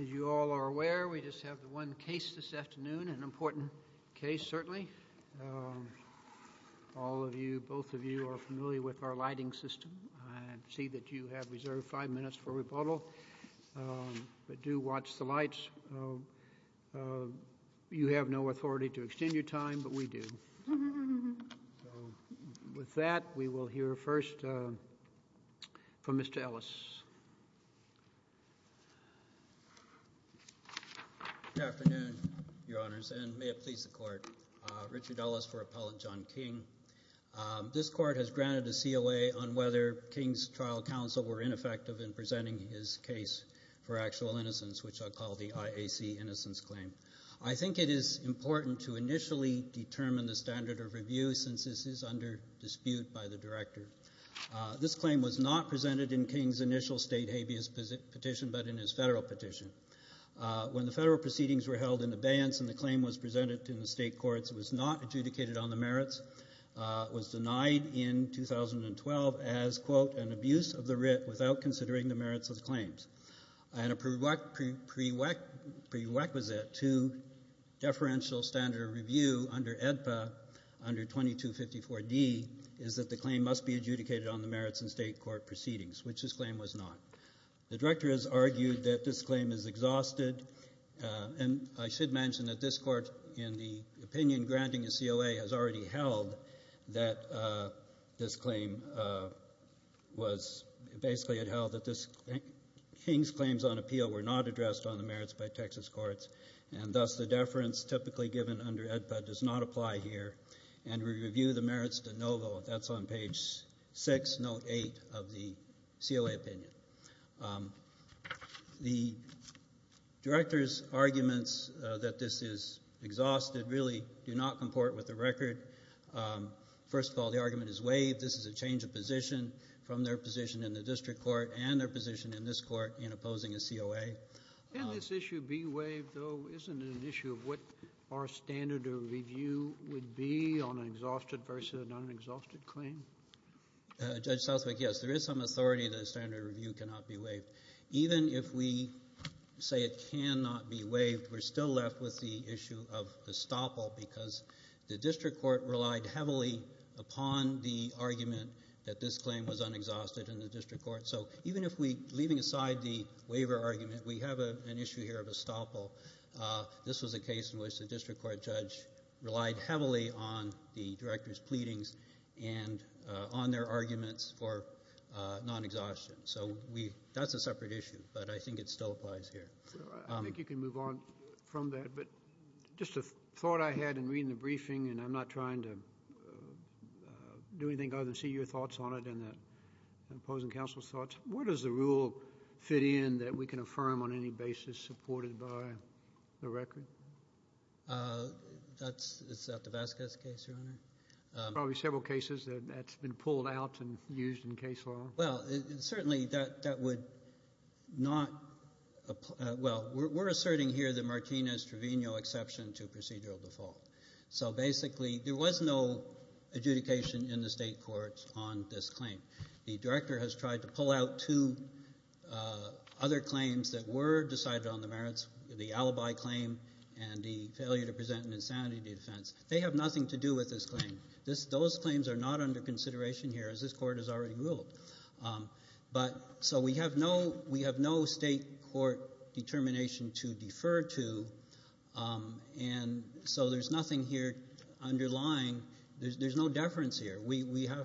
As you all are aware, we just have one case this afternoon, an important case, certainly. All of you, both of you, are familiar with our lighting system. I see that you have reserved five minutes for rebuttal, but do watch the lights. You have no authority to extend your time, but we do. With that, we will hear first from Mr. Ellis. Good afternoon, Your Honors, and may it please the Court. Richard Ellis for Appellant John King. This Court has granted a COA on whether King's trial counsel were ineffective in presenting his case for actual innocence, which I'll call the IAC Innocence Claim. I think it is important to initially determine the standard of review, since this is under dispute by the Director. This claim was not presented in King's initial state habeas petition, but in his federal petition. When the federal proceedings were held in abeyance and the claim was presented in the state courts, it was not adjudicated on the merits. It was denied in 2012 as, quote, an abuse of the writ without considering the merits of the claims. And a prerequisite to deferential standard of review under AEDPA, under 2254D, is that the claim must be adjudicated on the merits in state court proceedings, which this claim was not. The Director has argued that this claim is exhausted. And I should mention that this Court, in the opinion granting a COA, has already held that this claim was basically held that King's claims on appeal were not addressed on the merits by Texas courts. And thus, the deference typically given under AEDPA does not apply here. And we review the merits de novo. That's on page 6, note 8 of the COA opinion. The Director's arguments that this is exhausted really do not comport with the record. First of all, the argument is waived. This is a change of position from their position in the district court and their position in this court in opposing a COA. Can this issue be waived, though? Isn't it an issue of what our standard of review would be on an exhausted versus an unexhausted claim? Judge Southwick, yes, there is some authority that a standard of review cannot be waived. Even if we say it cannot be waived, we're still left with the issue of estoppel because the district court relied heavily upon the argument that this claim was unexhausted in the district court. So even if we're leaving aside the waiver argument, we have an issue here of estoppel. This was a case in which the district court judge relied heavily on the Director's pleadings and on their arguments for non-exhaustion. So that's a separate issue, but I think it still applies here. I think you can move on from that. Just a thought I had in reading the briefing, and I'm not trying to do anything other than see your thoughts on it and the opposing counsel's thoughts. Where does the rule fit in that we can affirm on any basis supported by the record? That's the Vasquez case, Your Honor. There are probably several cases that that's been pulled out and used in case law. Well, certainly that would not – well, we're asserting here the Martinez-Trevino exception to procedural default. So basically there was no adjudication in the state courts on this claim. The Director has tried to pull out two other claims that were decided on the merits, the alibi claim and the failure to present an insanity defense. They have nothing to do with this claim. Those claims are not under consideration here, as this Court has already ruled. So we have no state court determination to defer to, and so there's nothing here underlying – there's no deference here. We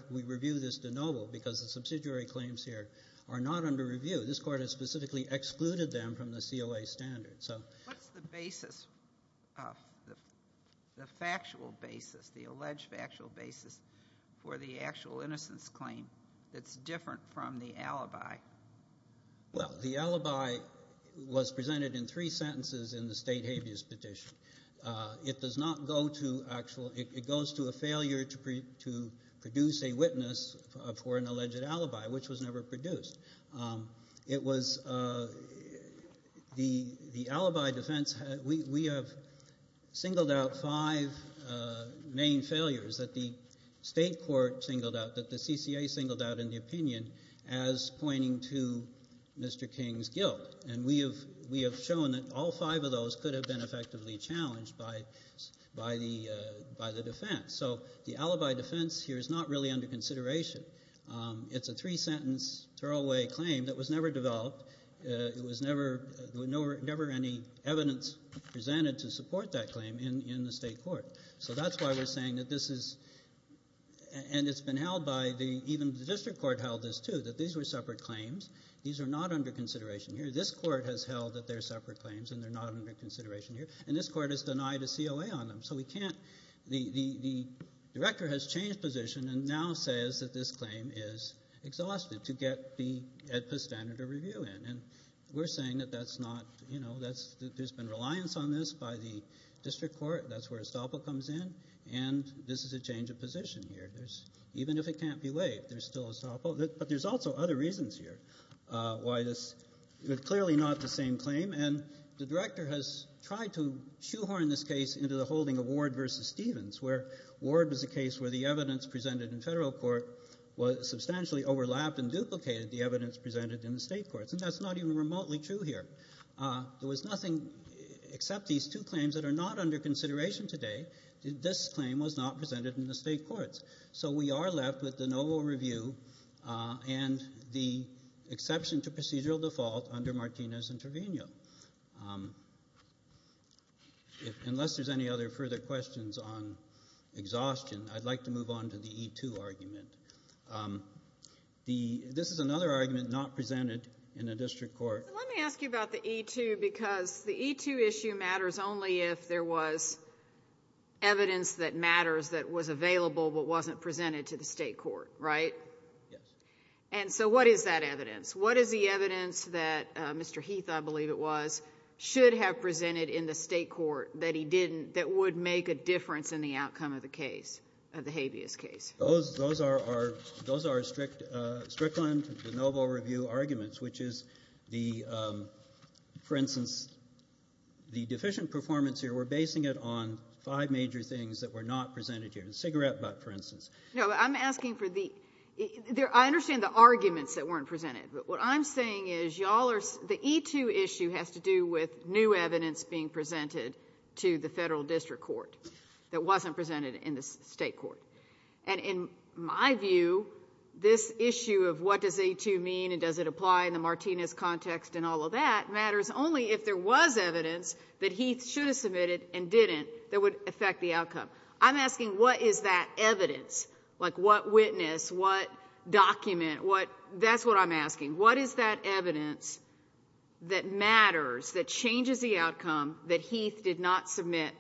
review this de novo because the subsidiary claims here are not under review. This Court has specifically excluded them from the COA standard. What's the basis, the factual basis, the alleged factual basis for the actual innocence claim that's different from the alibi? Well, the alibi was presented in three sentences in the state habeas petition. It does not go to actual – it goes to a failure to produce a witness for an alleged alibi, which was never produced. It was – the alibi defense – we have singled out five main failures that the state court singled out, that the CCA singled out in the opinion as pointing to Mr. King's guilt, and we have shown that all five of those could have been effectively challenged by the defense. So the alibi defense here is not really under consideration. It's a three-sentence throwaway claim that was never developed. There was never any evidence presented to support that claim in the state court. So that's why we're saying that this is – and it's been held by the – even the district court held this too, that these were separate claims. These are not under consideration here. This court has held that they're separate claims and they're not under consideration here, and this court has denied a COA on them. So we can't – the director has changed position and now says that this claim is exhausted to get the EDPA standard of review in, and we're saying that that's not – you know, there's been reliance on this by the district court. That's where estoppel comes in, and this is a change of position here. There's – even if it can't be waived, there's still estoppel. But there's also other reasons here why this – clearly not the same claim, and the director has tried to shoehorn this case into the holding of Ward v. Stevens, where Ward was a case where the evidence presented in federal court was substantially overlapped and duplicated the evidence presented in the state courts, and that's not even remotely true here. There was nothing except these two claims that are not under consideration today. This claim was not presented in the state courts. So we are left with the novel review and the exception to procedural default under Martinez and Trevino. Unless there's any other further questions on exhaustion, I'd like to move on to the E2 argument. This is another argument not presented in a district court. Let me ask you about the E2 because the E2 issue matters only if there was evidence that matters that was available but wasn't presented to the state court, right? Yes. And so what is that evidence? What is the evidence that Mr. Heath, I believe it was, should have presented in the state court that he didn't – that would make a difference in the outcome of the case, of the habeas case? Those are strict – Strickland, the novel review arguments, which is the – for instance, the deficient performance here, we're basing it on five major things that were not presented here, cigarette butt, for instance. No, I'm asking for the – I understand the arguments that weren't presented, but what I'm saying is y'all are – the E2 issue has to do with new evidence being presented to the federal district court that wasn't presented in the state court. And in my view, this issue of what does E2 mean and does it apply in the Martinez context and all of that matters only if there was evidence that Heath should have submitted and didn't that would affect the outcome. I'm asking what is that evidence, like what witness, what document, what – that's what I'm asking. What is that evidence that matters, that changes the outcome that Heath did not submit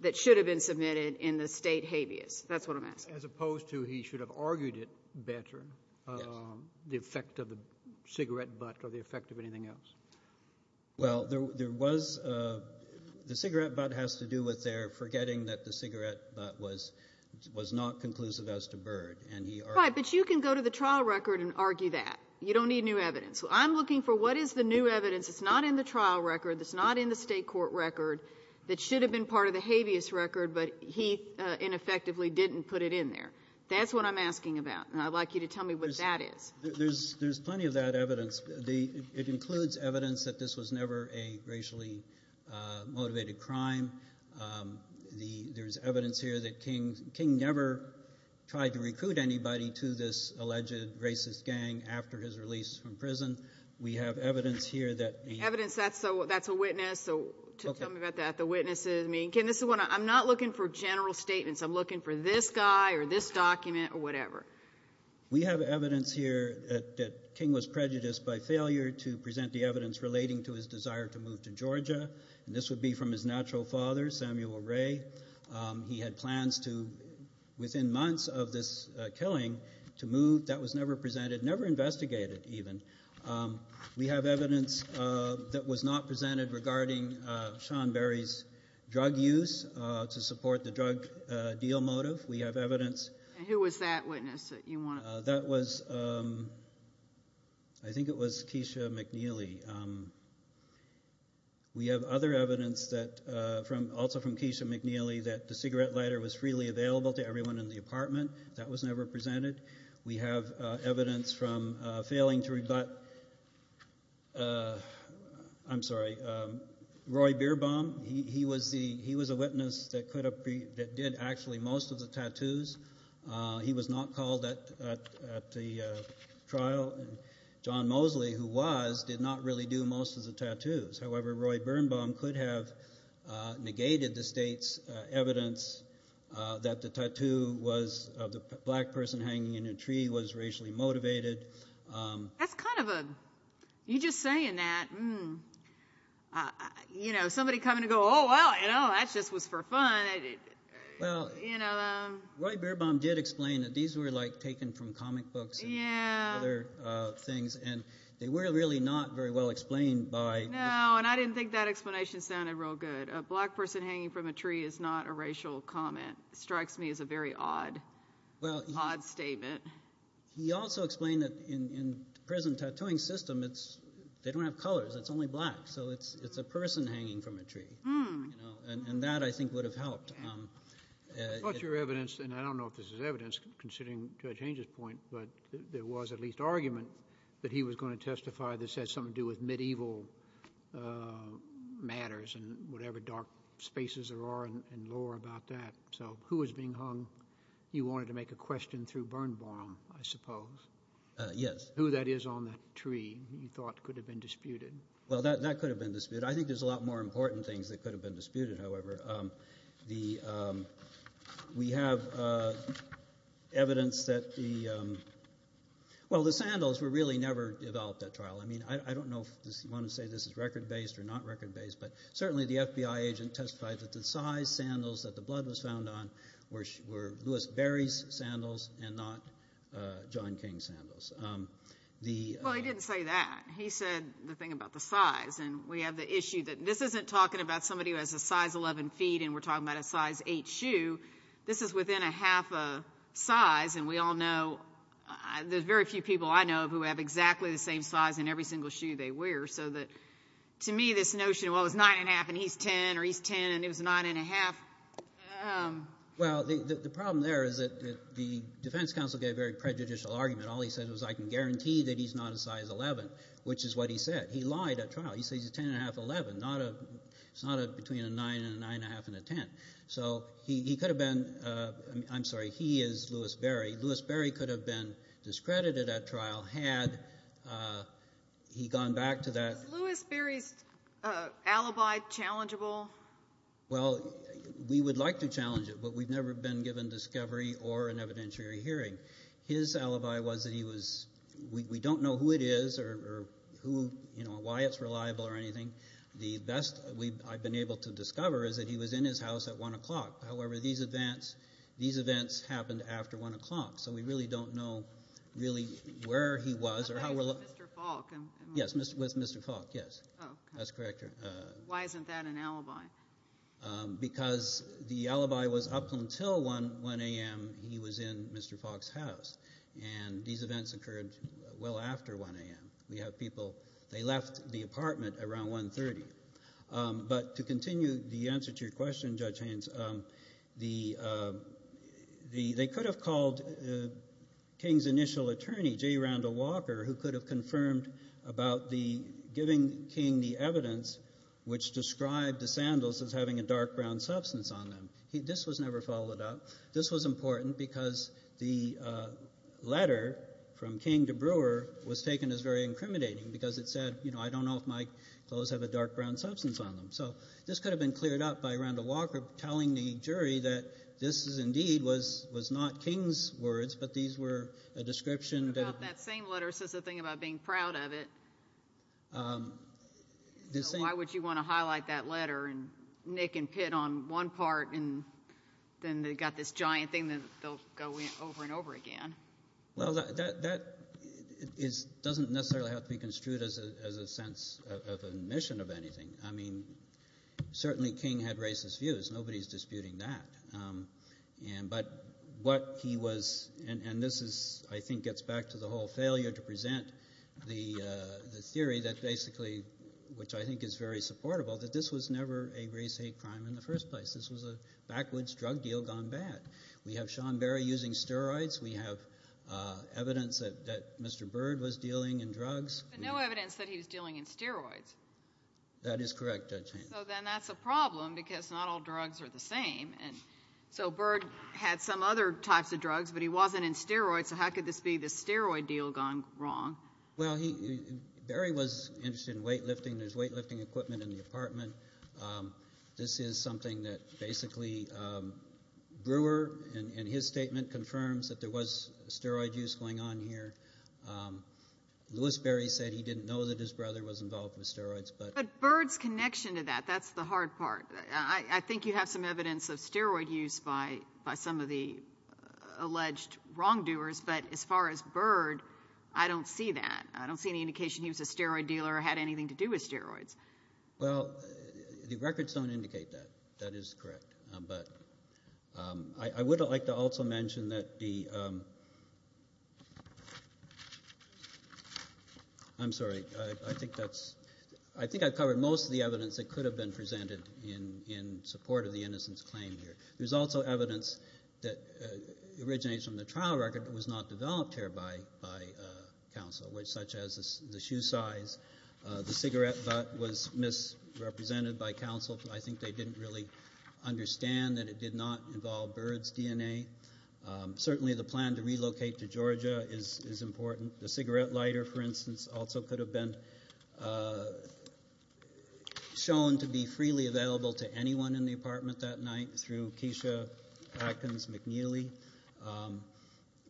that should have been submitted in the state habeas? That's what I'm asking. As opposed to he should have argued it better, the effect of the cigarette butt or the effect of anything else. Well, there was – the cigarette butt has to do with their forgetting that the cigarette butt was not conclusive as to Byrd. But you can go to the trial record and argue that. You don't need new evidence. I'm looking for what is the new evidence that's not in the trial record, that's not in the state court record, that should have been part of the habeas record, but Heath ineffectively didn't put it in there. That's what I'm asking about, and I'd like you to tell me what that is. There's plenty of that evidence. It includes evidence that this was never a racially motivated crime. There's evidence here that King never tried to recruit anybody to this alleged racist gang after his release from prison. We have evidence here that – Evidence. That's a witness. So tell me about that, the witnesses. I'm not looking for general statements. I'm looking for this guy or this document or whatever. We have evidence here that King was prejudiced by failure to present the evidence relating to his desire to move to Georgia. This would be from his natural father, Samuel Ray. He had plans to, within months of this killing, to move. That was never presented, never investigated even. We have evidence that was not presented regarding Sean Berry's drug use to support the drug deal motive. We have evidence. Who was that witness that you want to talk about? That was, I think it was Keisha McNeely. We have other evidence, also from Keisha McNeely, that the cigarette lighter was freely available to everyone in the apartment. That was never presented. We have evidence from failing to rebut, I'm sorry, Roy Beerbaum. He was a witness that did actually most of the tattoos. He was not called at the trial. John Mosley, who was, did not really do most of the tattoos. However, Roy Beerbaum could have negated the state's evidence that the tattoo of the black person hanging in a tree was racially motivated. That's kind of a, you just saying that, you know, somebody coming to go, oh, well, you know, that just was for fun. Well, you know. Roy Beerbaum did explain that these were like taken from comic books and other things, and they were really not very well explained by. No, and I didn't think that explanation sounded real good. A black person hanging from a tree is not a racial comment. It strikes me as a very odd, odd statement. He also explained that in the prison tattooing system, they don't have colors, it's only black. So it's a person hanging from a tree. And that, I think, would have helped. I thought your evidence, and I don't know if this is evidence, considering Judge Hange's point, but there was at least argument that he was going to testify this had something to do with medieval matters and whatever dark spaces there are in lore about that. So who was being hung? You wanted to make a question through Bernbaum, I suppose. Yes. Who that is on that tree you thought could have been disputed. Well, that could have been disputed. I think there's a lot more important things that could have been disputed, however. We have evidence that the sandals were really never developed at trial. I don't know if you want to say this is record-based or not record-based, but certainly the FBI agent testified that the size sandals that the blood was found on were Louis Berry's sandals and not John King's sandals. Well, he didn't say that. He said the thing about the size. And we have the issue that this isn't talking about somebody who has a size 11 feet and we're talking about a size 8 shoe. This is within a half a size, and we all know, there's very few people I know who have exactly the same size in every single shoe they wear. To me, this notion of, well, it's 9 1⁄2 and he's 10 or he's 10 and it was 9 1⁄2. Well, the problem there is that the defense counsel gave a very prejudicial argument. All he said was, I can guarantee that he's not a size 11, which is what he said. He lied at trial. He said he's a 10 1⁄2, 11. It's not between a 9 and a 9 1⁄2 and a 10. So he could have been Louis Berry. He could have been discredited at trial had he gone back to that. Was Louis Berry's alibi challengeable? Well, we would like to challenge it, but we've never been given discovery or an evidentiary hearing. His alibi was that he was we don't know who it is or why it's reliable or anything. The best I've been able to discover is that he was in his house at 1 o'clock. However, these events happened after 1 o'clock. So we really don't know really where he was or how reliable. With Mr. Falk? Yes, with Mr. Falk, yes. That's correct. Why isn't that an alibi? Because the alibi was up until 1 a.m. he was in Mr. Falk's house. And these events occurred well after 1 a.m. We have people, they left the apartment around 1 30. But to continue the answer to your question, Judge Haynes, they could have called King's initial attorney, J. Randall Walker, who could have confirmed about giving King the evidence which described the sandals as having a dark brown substance on them. This was never followed up. This was important because the letter from King to Brewer was taken as very incriminating because it said, you know, I don't know if my clothes have a dark brown substance on them. So this could have been cleared up by Randall Walker telling the jury that this indeed was not King's words, but these were a description. That same letter says the thing about being proud of it. Why would you want to highlight that letter and nick and pit on one part and then they've got this giant thing that they'll go over and over again? Well, that doesn't necessarily have to be construed as a sense of admission of anything. I mean certainly King had racist views. Nobody is disputing that. But what he was, and this is I think gets back to the whole failure to present the theory that basically, which I think is very supportable, that this was never a race hate crime in the first place. This was a backwards drug deal gone bad. We have Sean Berry using steroids. We have evidence that Mr. Bird was dealing in drugs. But no evidence that he was dealing in steroids. That is correct, Judge Haynes. So then that's a problem because not all drugs are the same. So Bird had some other types of drugs, but he wasn't in steroids, so how could this be the steroid deal gone wrong? Well, Berry was interested in weight lifting. There's weight lifting equipment in the apartment. This is something that basically Brewer, in his statement, confirms that there was steroid use going on here. Lewis Berry said he didn't know that his brother was involved with steroids. But Bird's connection to that, that's the hard part. I think you have some evidence of steroid use by some of the alleged wrongdoers, but as far as Bird, I don't see that. I don't see any indication he was a steroid dealer or had anything to do with steroids. Well, the records don't indicate that. That is correct. But I would like to also mention that the ‑‑ I'm sorry. I think I've covered most of the evidence that could have been presented in support of the innocence claim here. There's also evidence that originates from the trial record that was not developed here by counsel, such as the shoe size. The cigarette butt was misrepresented by counsel. I think they didn't really understand that it did not involve Bird's DNA. Certainly the plan to relocate to Georgia is important. The cigarette lighter, for instance, also could have been shown to be freely available to anyone in the apartment that night through Keisha Atkins McNeely.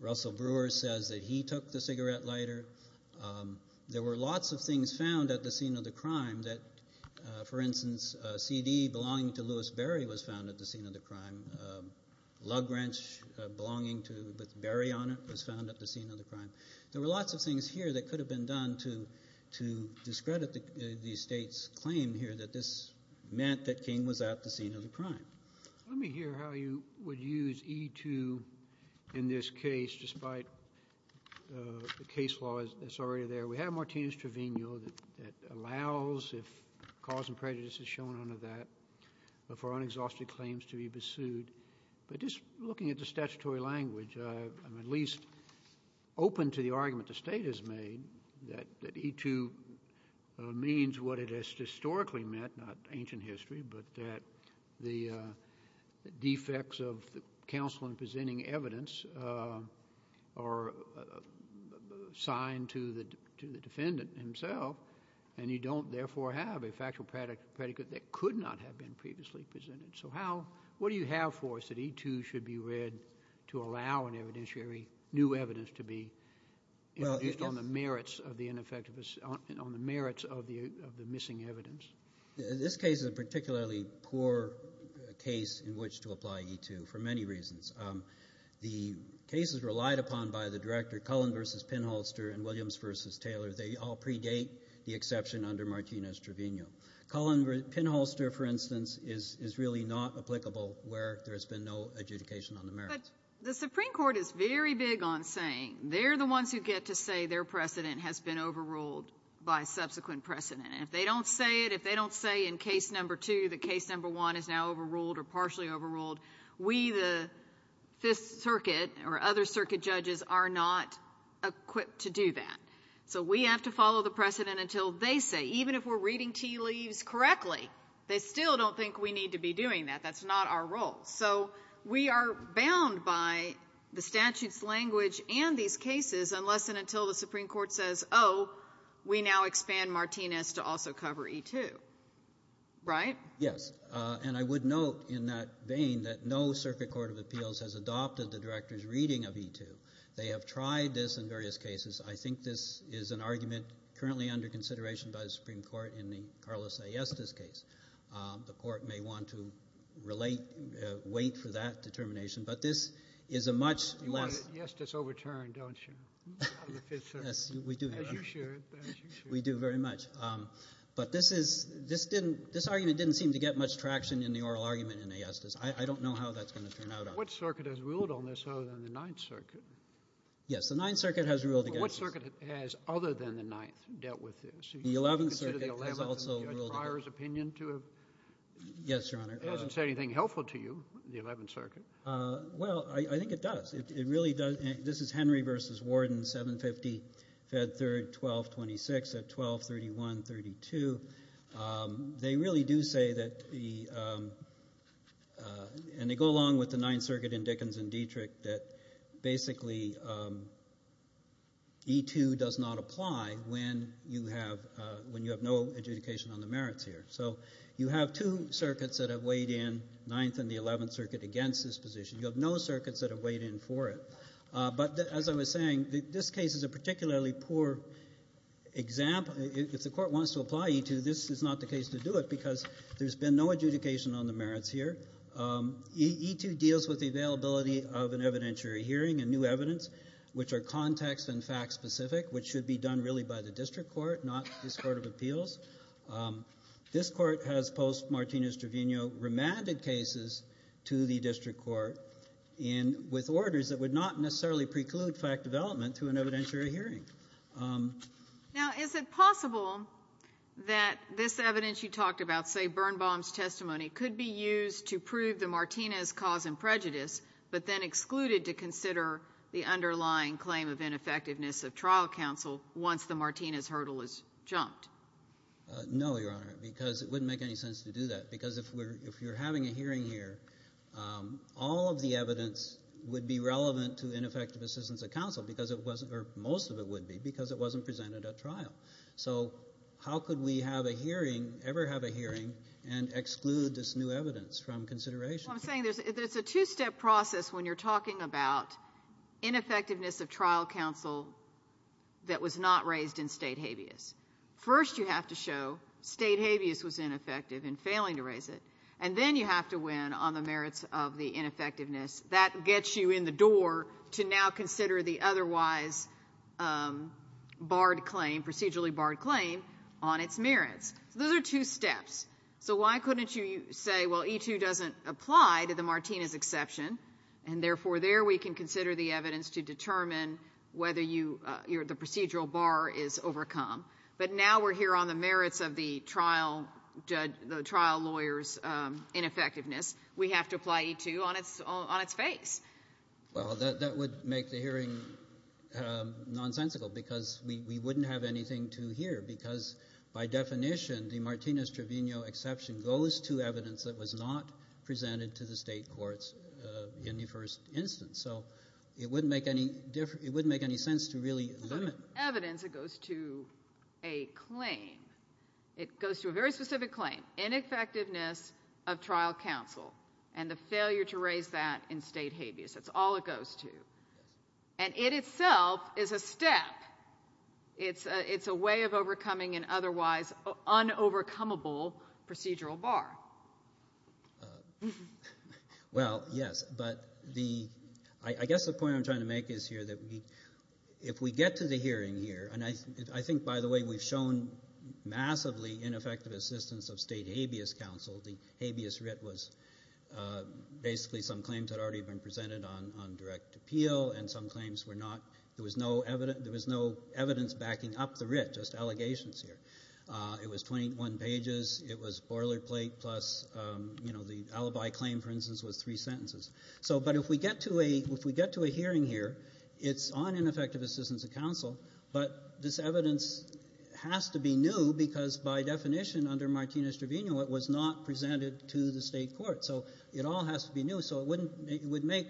Russell Brewer says that he took the cigarette lighter. There were lots of things found at the scene of the crime that, for instance, a CD belonging to Louis Berry was found at the scene of the crime. A lug wrench belonging to ‑‑ with Berry on it was found at the scene of the crime. There were lots of things here that could have been done to discredit the state's claim here that this meant that King was at the scene of the crime. Let me hear how you would use E2 in this case, despite the case law that's already there. We have Martinez Trevino that allows, if cause and prejudice is shown under that, for unexhausted claims to be pursued. But just looking at the statutory language, I'm at least open to the argument the state has made that E2 means what it has historically meant, not ancient history, but that the defects of the counsel in presenting evidence are assigned to the defendant himself, and you don't therefore have a factual predicate that could not have been previously presented. So what do you have for us that E2 should be read to allow new evidence to be introduced on the merits of the ineffective ‑‑ on the merits of the missing evidence? This case is a particularly poor case in which to apply E2 for many reasons. The cases relied upon by the director, Cullen v. Pinholster and Williams v. Taylor, they all predate the exception under Martinez Trevino. Cullen ‑‑ Pinholster, for instance, is really not applicable where there's been no adjudication on the merits. But the Supreme Court is very big on saying they're the ones who get to say their precedent has been overruled by subsequent precedent. And if they don't say it, if they don't say in case number two that case number one is now overruled or partially overruled, we the Fifth Circuit or other circuit judges are not equipped to do that. So we have to follow the precedent until they say. Even if we're reading tea leaves correctly, they still don't think we need to be doing that. That's not our role. So we are bound by the statute's language and these cases unless and until the Supreme Court says, oh, we now expand Martinez to also cover E2. Right? Yes. And I would note in that vein that no circuit court of appeals has adopted the director's reading of E2. They have tried this in various cases. I think this is an argument currently under consideration by the Supreme Court in the Carlos A. Estes case. The court may want to relate, wait for that determination, but this is a much less You want to get Estes overturned, don't you? Yes, we do. As you should. We do very much. But this argument didn't seem to get much traction in the oral argument in the Estes. I don't know how that's going to turn out. What circuit has ruled on this other than the Ninth Circuit? Yes, the Ninth Circuit has ruled against this. What circuit has other than the Ninth dealt with this? The Eleventh Circuit has also ruled against it. Yes, Your Honor. It doesn't say anything helpful to you, the Eleventh Circuit. Well, I think it does. It really does. This is Henry v. Warden, 750, Fed 3rd, 1226, at 1231-32. They really do say that the – and they go along with the Ninth Circuit in Dickens that basically E-2 does not apply when you have no adjudication on the merits here. So you have two circuits that have weighed in, Ninth and the Eleventh Circuit, against this position. You have no circuits that have weighed in for it. But as I was saying, this case is a particularly poor example. If the court wants to apply E-2, this is not the case to do it because there's been no adjudication on the merits here. E-2 deals with the availability of an evidentiary hearing and new evidence, which are context- and fact-specific, which should be done really by the district court, not this Court of Appeals. This court has post-Martinez-Trevino remanded cases to the district court with orders that would not necessarily preclude fact development through an evidentiary hearing. Now, is it possible that this evidence you talked about, say Birnbaum's testimony, could be used to prove the Martinez cause and prejudice but then excluded to consider the underlying claim of ineffectiveness of trial counsel once the Martinez hurdle is jumped? No, Your Honor, because it wouldn't make any sense to do that. Because if you're having a hearing here, all of the evidence would be relevant to ineffective assistance of counsel because it wasn't, or most of it would be, because it wasn't presented at trial. So how could we have a hearing, ever have a hearing, and exclude this new evidence from consideration? Well, I'm saying that it's a two-step process when you're talking about ineffectiveness of trial counsel that was not raised in State habeas. First you have to show State habeas was ineffective in failing to raise it, and then you have to win on the merits of the ineffectiveness. That gets you in the door to now consider the otherwise barred claim, procedurally barred claim, on its merits. So those are two steps. So why couldn't you say, well, E2 doesn't apply to the Martinez exception, and therefore there we can consider the evidence to determine whether the procedural bar is overcome. But now we're here on the merits of the trial lawyer's ineffectiveness. We have to apply E2 on its face. Well, that would make the hearing nonsensical because we wouldn't have anything to hear because by definition the Martinez-Trevino exception goes to evidence that was not presented to the State courts in the first instance. So it wouldn't make any sense to really limit it. It goes to evidence. It goes to a claim. It goes to a very specific claim, ineffectiveness of trial counsel and the failure to raise that in State habeas. That's all it goes to. And it itself is a step. It's a way of overcoming an otherwise unovercomeable procedural bar. Well, yes, but I guess the point I'm trying to make is here that if we get to the hearing here, and I think, by the way, we've shown massively ineffective assistance of State habeas counsel. The habeas writ was basically some claims that had already been presented on direct appeal, and some claims were not. There was no evidence backing up the writ, just allegations here. It was 21 pages. It was boilerplate plus the alibi claim, for instance, was three sentences. But if we get to a hearing here, it's on ineffective assistance of counsel, but this evidence has to be new because, by definition, under Martinez-Trevino, it was not presented to the State court. So it all has to be new, so it would make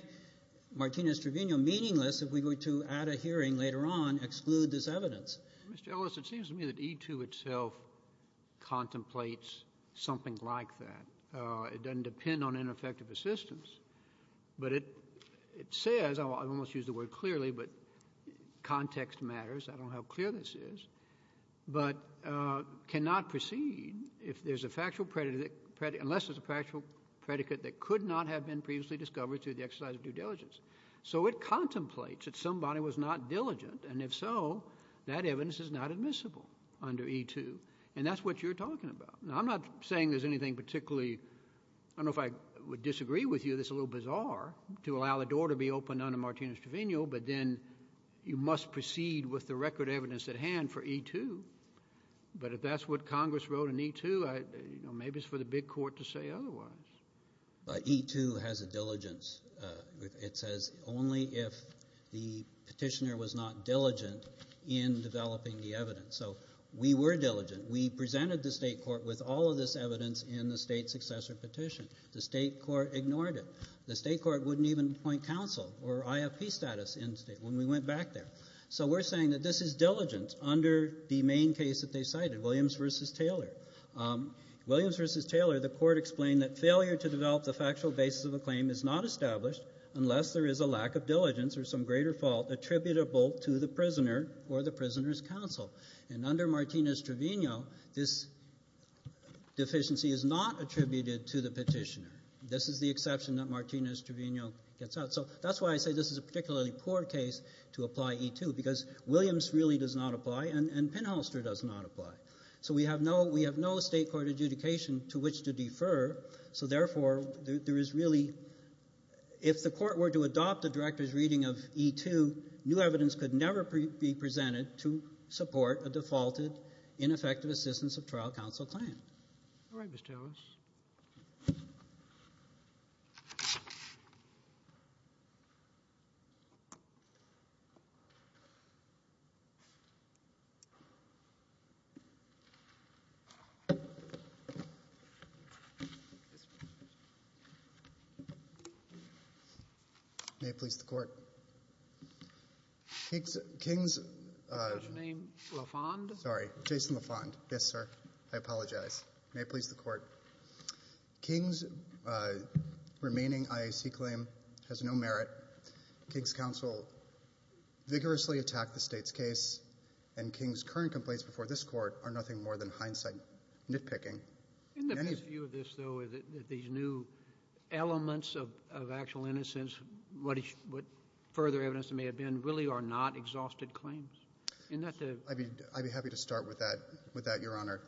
Martinez-Trevino meaningless if we were to, at a hearing later on, exclude this evidence. Mr. Ellis, it seems to me that E-2 itself contemplates something like that. It doesn't depend on ineffective assistance, but it says, I almost used the word clearly, but context matters. I don't know how clear this is, but cannot proceed unless there's a factual predicate that could not have been previously discovered through the exercise of due diligence. So it contemplates that somebody was not diligent, and if so, that evidence is not admissible under E-2, and that's what you're talking about. Now, I'm not saying there's anything particularly I don't know if I would disagree with you that's a little bizarre to allow the door to be opened under Martinez-Trevino, but then you must proceed with the record evidence at hand for E-2. But if that's what Congress wrote in E-2, maybe it's for the big court to say otherwise. E-2 has a diligence. It says only if the petitioner was not diligent in developing the evidence. So we were diligent. We presented the state court with all of this evidence in the state successor petition. The state court ignored it. The state court wouldn't even appoint counsel or IFP status when we went back there. So we're saying that this is diligence under the main case that they cited, Williams v. Taylor. Williams v. Taylor, the court explained that failure to develop the factual basis of a claim is not established unless there is a lack of diligence or some greater fault attributable to the prisoner or the prisoner's counsel. And under Martinez-Trevino, this deficiency is not attributed to the petitioner. This is the exception that Martinez-Trevino gets out. So that's why I say this is a particularly poor case to apply E-2 because Williams really does not apply and Pinholster does not apply. So we have no state court adjudication to which to defer. So therefore, there is really, if the court were to adopt a director's reading of E-2, new evidence could never be presented to support a defaulted, ineffective assistance of trial counsel claim. All right, Mr. Ellis. May it please the Court. King's. Your name? LaFond. Sorry, Jason LaFond. Yes, sir. I apologize. May it please the Court. King's remaining IAC claim has no merit. King's counsel vigorously attacked the State's case, and King's current complaints before this Court are nothing more than hindsight nitpicking. In the view of this, though, is it that these new elements of actual innocence, what further evidence there may have been, really are not exhausted claims? I'd be happy to start with that, Your Honor.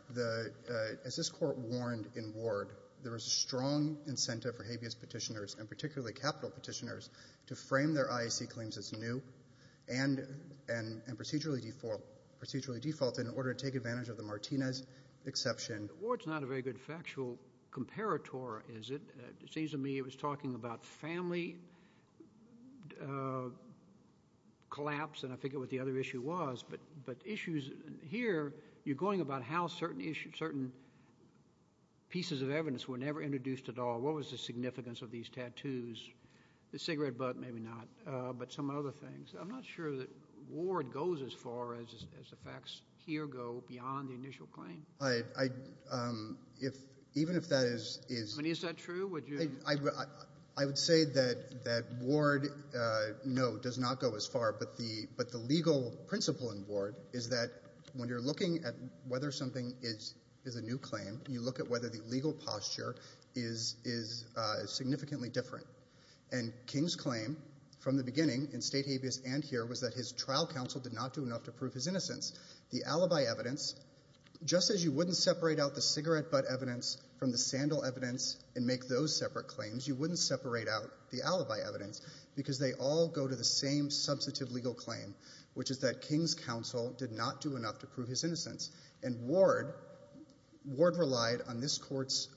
As this Court warned in Ward, there is a strong incentive for habeas petitioners and particularly capital petitioners to frame their IAC claims as new and procedurally default in order to take advantage of the Martinez exception. Ward's not a very good factual comparator, is it? It seems to me it was talking about family collapse, and I forget what the other issue was. But issues here, you're going about how certain pieces of evidence were never introduced at all. What was the significance of these tattoos? The cigarette butt, maybe not, but some other things. I'm not sure that Ward goes as far as the facts here go beyond the initial claim. Even if that is true, I would say that Ward, no, does not go as far. But the legal principle in Ward is that when you're looking at whether something is a new claim, you look at whether the legal posture is significantly different. And King's claim from the beginning, in State habeas and here, was that his trial counsel did not do enough to prove his innocence. The alibi evidence, just as you wouldn't separate out the cigarette butt evidence from the sandal evidence and make those separate claims, you wouldn't separate out the alibi evidence because they all go to the same substantive legal claim, which is that King's counsel did not do enough to prove his innocence. And Ward relied on this Court's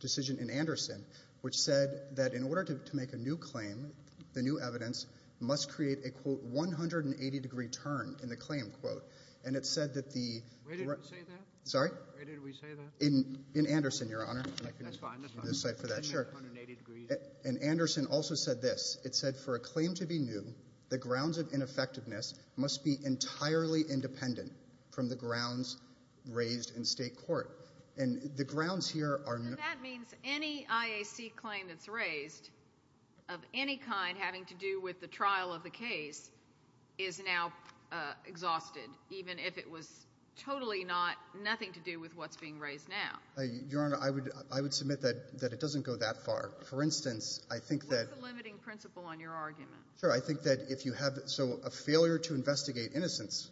decision in Anderson, which said that in order to make a new claim, the new evidence must create a, quote, 180-degree turn in the claim, quote. And it said that the – Where did we say that? Sorry? Where did we say that? In Anderson, Your Honor. That's fine, that's fine. And Anderson also said this. It said, for a claim to be new, the grounds of ineffectiveness must be entirely independent from the grounds raised in State court. And the grounds here are – So that means any IAC claim that's raised of any kind having to do with the trial of the case is now exhausted, even if it was totally not – nothing to do with what's being raised now. Your Honor, I would submit that it doesn't go that far. For instance, I think that – What's the limiting principle on your argument? Sure. I think that if you have – so a failure to investigate innocence,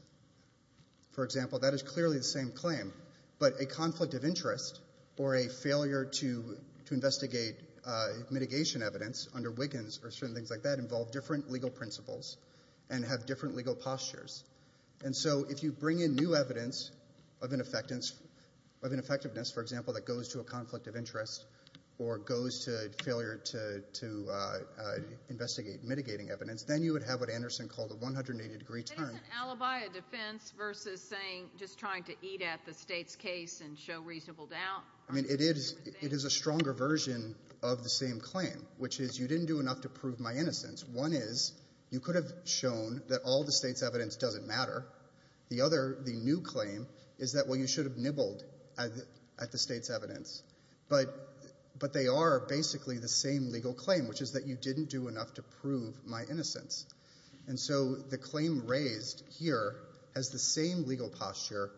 for example, that is clearly the same claim, but a conflict of interest or a failure to investigate mitigation evidence under Wiggins or certain things like that involve different legal principles and have different legal postures. And so if you bring in new evidence of ineffectiveness, for example, that goes to a conflict of interest or goes to failure to investigate mitigating evidence, then you would have what Anderson called a 180-degree turn. It is an alibi of defense versus saying – just trying to eat at the State's case and show reasonable doubt. I mean, it is a stronger version of the same claim, which is you didn't do enough to prove my innocence. One is you could have shown that all the State's evidence doesn't matter. The other, the new claim, is that, well, you should have nibbled at the State's evidence. But they are basically the same legal claim, which is that you didn't do enough to prove my innocence. And so the claim raised here has the same legal posture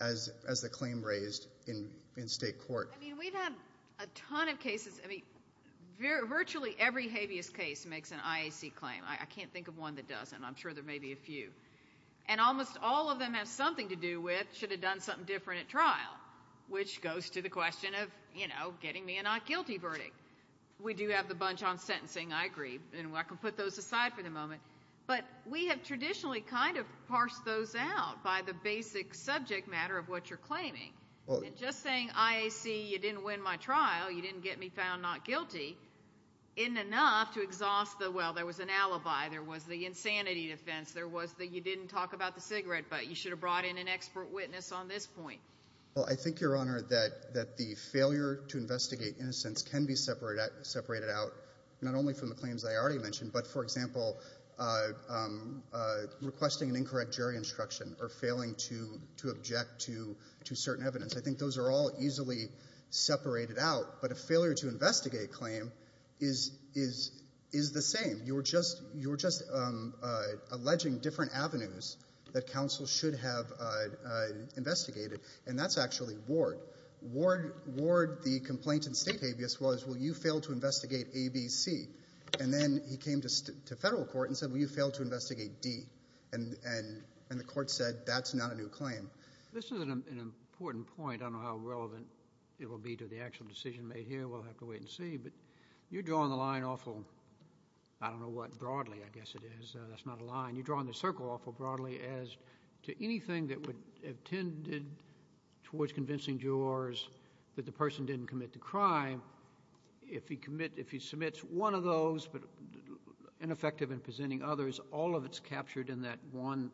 as the claim raised in State court. I mean, we've had a ton of cases – I mean, virtually every habeas case makes an IAC claim. I can't think of one that doesn't. I'm sure there may be a few. And almost all of them have something to do with should have done something different at trial, which goes to the question of getting me a not guilty verdict. We do have the bunch on sentencing. I agree. And I can put those aside for the moment. But we have traditionally kind of parsed those out by the basic subject matter of what you're claiming. And just saying IAC, you didn't win my trial, you didn't get me found not guilty, isn't enough to exhaust the, well, there was an alibi, there was the insanity defense, there was the you didn't talk about the cigarette, but you should have brought in an expert witness on this point. Well, I think, Your Honor, that the failure to investigate innocence can be separated out, not only from the claims I already mentioned, but, for example, requesting an incorrect jury instruction or failing to object to certain evidence. I think those are all easily separated out. But a failure to investigate claim is the same. You're just alleging different avenues that counsel should have investigated. And that's actually Ward. Ward, the complaintant state habeas was, well, you failed to investigate ABC. And then he came to federal court and said, well, you failed to investigate D. And the court said, that's not a new claim. This is an important point. I don't know how relevant it will be to the actual decision made here. We'll have to wait and see. But you're drawing the line awful, I don't know what, broadly, I guess it is. That's not a line. You're drawing the circle awful broadly as to anything that would have tended towards convincing jurors that the person didn't commit the crime. If he commits, if he submits one of those, but ineffective in presenting others, all of it's captured in that one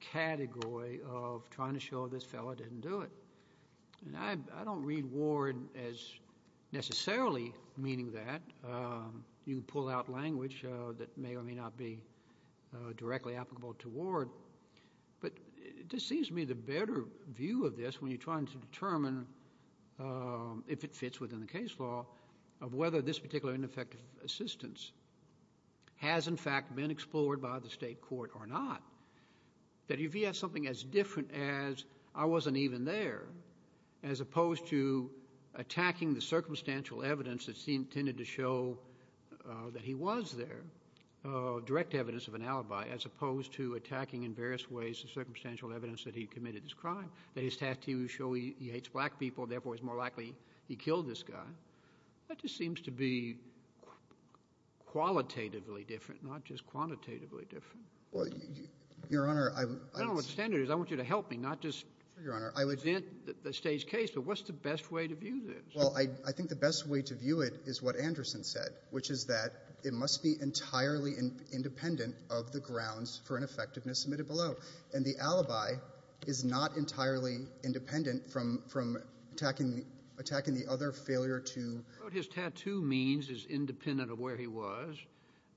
category of trying to show this fellow didn't do it. And I don't read Ward as necessarily meaning that. You can pull out language that may or may not be directly applicable to Ward. But it just seems to me the better view of this, when you're trying to determine if it fits within the case law, of whether this particular ineffective assistance has, in fact, been explored by the state court or not, that if he has something as different as I wasn't even there, as opposed to attacking the circumstantial evidence that tended to show that he was there, direct evidence of an alibi, as opposed to attacking in various ways the circumstantial evidence that he committed this crime, that his tattoos show he hates black people, therefore, it's more likely he killed this guy. That just seems to be qualitatively different, not just quantitatively different. Well, Your Honor, I'm — I don't know what the standard is. I want you to help me, not just present the State's case. But what's the best way to view this? Well, I think the best way to view it is what Anderson said, which is that it must be entirely independent of the grounds for ineffectiveness submitted below. And the alibi is not entirely independent from attacking the other failure to— What his tattoo means is independent of where he was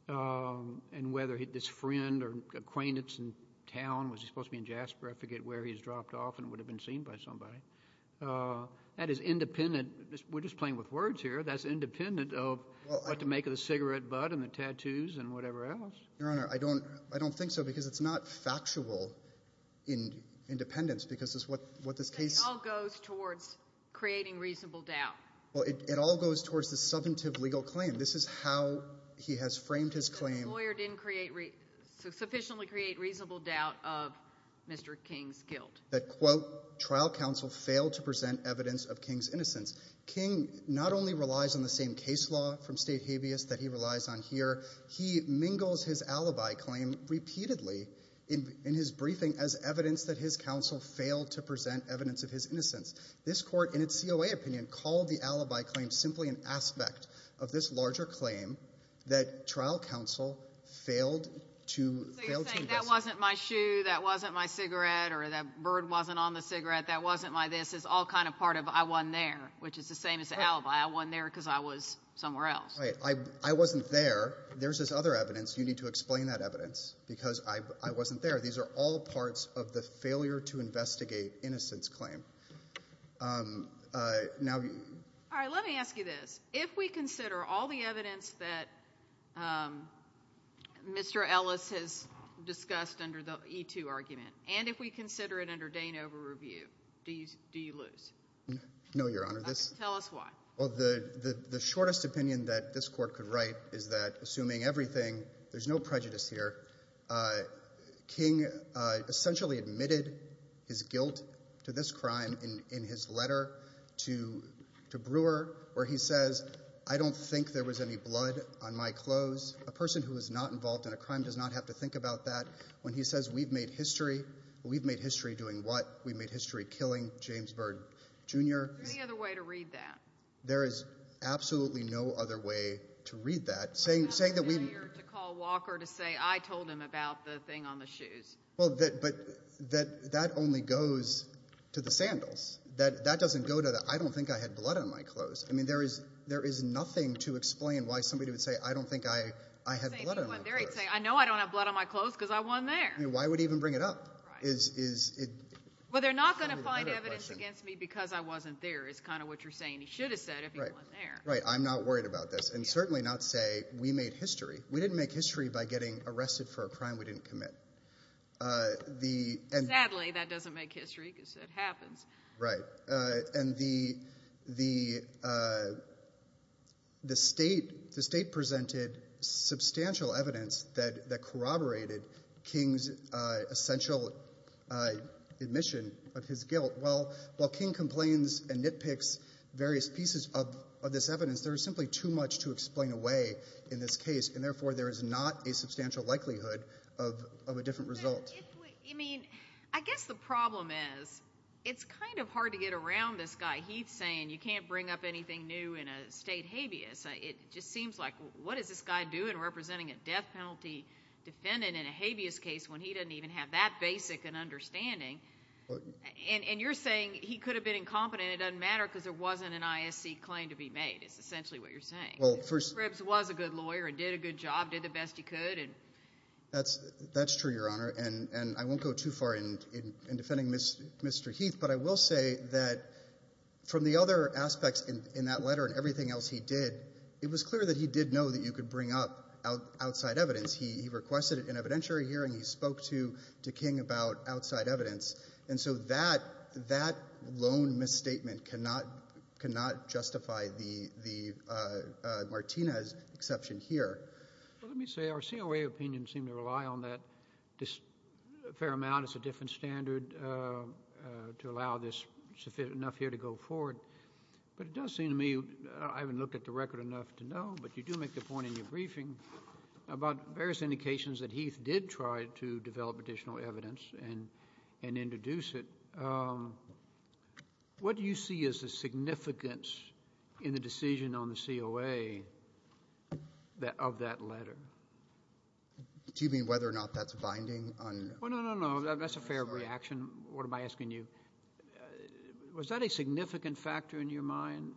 and whether this friend or acquaintance in town, was he supposed to be in Jasper? I forget where he's dropped off and would have been seen by somebody. That is independent. We're just playing with words here. That's independent of what to make of the cigarette butt and the tattoos and whatever else. Your Honor, I don't think so because it's not factual independence because it's what this case— It all goes towards creating reasonable doubt. Well, it all goes towards the subjunctive legal claim. This is how he has framed his claim— The lawyer didn't sufficiently create reasonable doubt of Mr. King's guilt. That, quote, trial counsel failed to present evidence of King's innocence. King not only relies on the same case law from State habeas that he relies on here, he mingles his alibi claim repeatedly in his briefing as evidence that his counsel failed to present evidence of his innocence. This court, in its COA opinion, called the alibi claim simply an aspect of this larger claim that trial counsel failed to— So you're saying that wasn't my shoe, that wasn't my cigarette, or that bird wasn't on the cigarette, that wasn't my this. It's all kind of part of I wasn't there, which is the same as the alibi. I wasn't there because I was somewhere else. Right. I wasn't there. There's this other evidence. You need to explain that evidence because I wasn't there. These are all parts of the failure to investigate innocence claim. All right. Let me ask you this. If we consider all the evidence that Mr. Ellis has discussed under the E-2 argument, and if we consider it under Danova review, do you lose? No, Your Honor. Tell us why. Well, the shortest opinion that this court could write is that, assuming everything, there's no prejudice here. King essentially admitted his guilt to this crime in his letter to Brewer where he says, I don't think there was any blood on my clothes. A person who is not involved in a crime does not have to think about that. When he says we've made history, we've made history doing what? We've made history killing James Byrd, Jr. Is there any other way to read that? There is absolutely no other way to read that. You have a failure to call Walker to say I told him about the thing on the shoes. But that only goes to the sandals. That doesn't go to the I don't think I had blood on my clothes. I mean there is nothing to explain why somebody would say I don't think I had blood on my clothes. I know I don't have blood on my clothes because I wasn't there. Why would he even bring it up? Well, they're not going to find evidence against me because I wasn't there is kind of what you're saying. He should have said it if he wasn't there. I'm not worried about this. And certainly not say we made history. We didn't make history by getting arrested for a crime we didn't commit. Sadly, that doesn't make history because it happens. Right. And the state presented substantial evidence that corroborated King's essential admission of his guilt. Well, while King complains and nitpicks various pieces of this evidence, there is simply too much to explain away in this case, and therefore there is not a substantial likelihood of a different result. I guess the problem is it's kind of hard to get around this guy. He's saying you can't bring up anything new in a state habeas. It just seems like what does this guy do in representing a death penalty defendant in a habeas case when he doesn't even have that basic an understanding? And you're saying he could have been incompetent. It doesn't matter because there wasn't an ISC claim to be made is essentially what you're saying. He was a good lawyer and did a good job, did the best he could. That's true, Your Honor, and I won't go too far in defending Mr. Heath, but I will say that from the other aspects in that letter and everything else he did, it was clear that he did know that you could bring up outside evidence. He requested an evidentiary hearing. He spoke to King about outside evidence. And so that lone misstatement cannot justify Martinez's exception here. Well, let me say our COA opinions seem to rely on that a fair amount. It's a different standard to allow this enough here to go forward. But it does seem to me I haven't looked at the record enough to know, but you do make the point in your briefing about various indications that Heath did try to develop additional evidence and introduce it. What do you see as the significance in the decision on the COA of that letter? Do you mean whether or not that's binding? No, no, no, no. That's a fair reaction. What am I asking you? Was that a significant factor in your mind?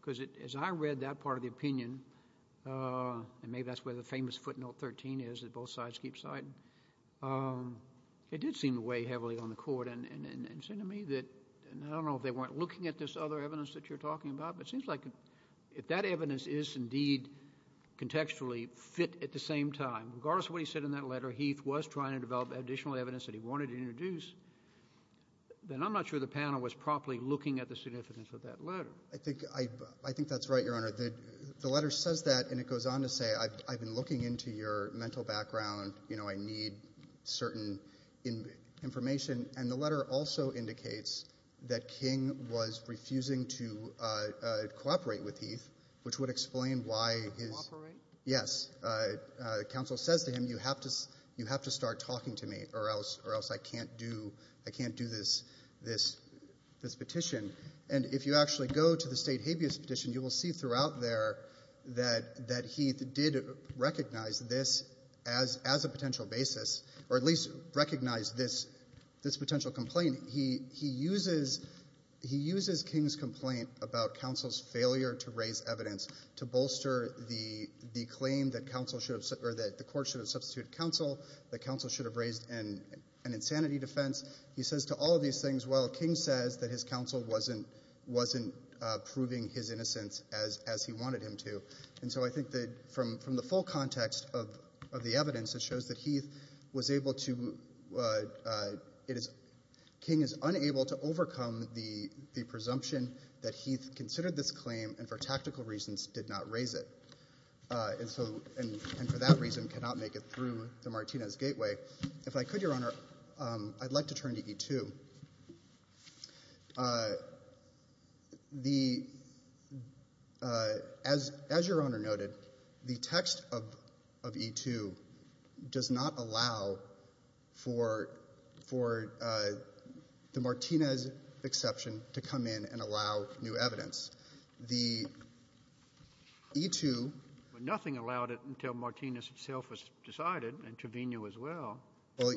Because as I read that part of the opinion, and maybe that's where the famous footnote 13 is that both sides keep citing, it did seem to weigh heavily on the Court. And it seemed to me that, and I don't know if they weren't looking at this other evidence that you're talking about, but it seems like if that evidence is indeed contextually fit at the same time, regardless of what he said in that letter, Heath was trying to develop additional evidence that he wanted to introduce, then I'm not sure the panel was properly looking at the significance of that letter. I think that's right, Your Honor. The letter says that, and it goes on to say I've been looking into your mental background. You know, I need certain information. And the letter also indicates that King was refusing to cooperate with Heath, which would explain why his ‑‑ Cooperate? Yes. Counsel says to him, you have to start talking to me or else I can't do this petition. And if you actually go to the state habeas petition, you will see throughout there that Heath did recognize this as a potential basis, or at least recognize this potential complaint. He uses King's complaint about counsel's failure to raise evidence to bolster the claim that the Court should have substituted counsel, that counsel should have raised an insanity defense. He says to all of these things, well, King says that his counsel wasn't proving his innocence as he wanted him to. And so I think that from the full context of the evidence, it shows that Heath was able to ‑‑ King is unable to overcome the presumption that Heath considered this claim and for tactical reasons did not raise it, and for that reason cannot make it through the Martinez gateway. If I could, Your Honor, I'd like to turn to E‑2. As Your Honor noted, the text of E‑2 does not allow for the Martinez exception to come in and allow new evidence. The E‑2 ‑‑ Well,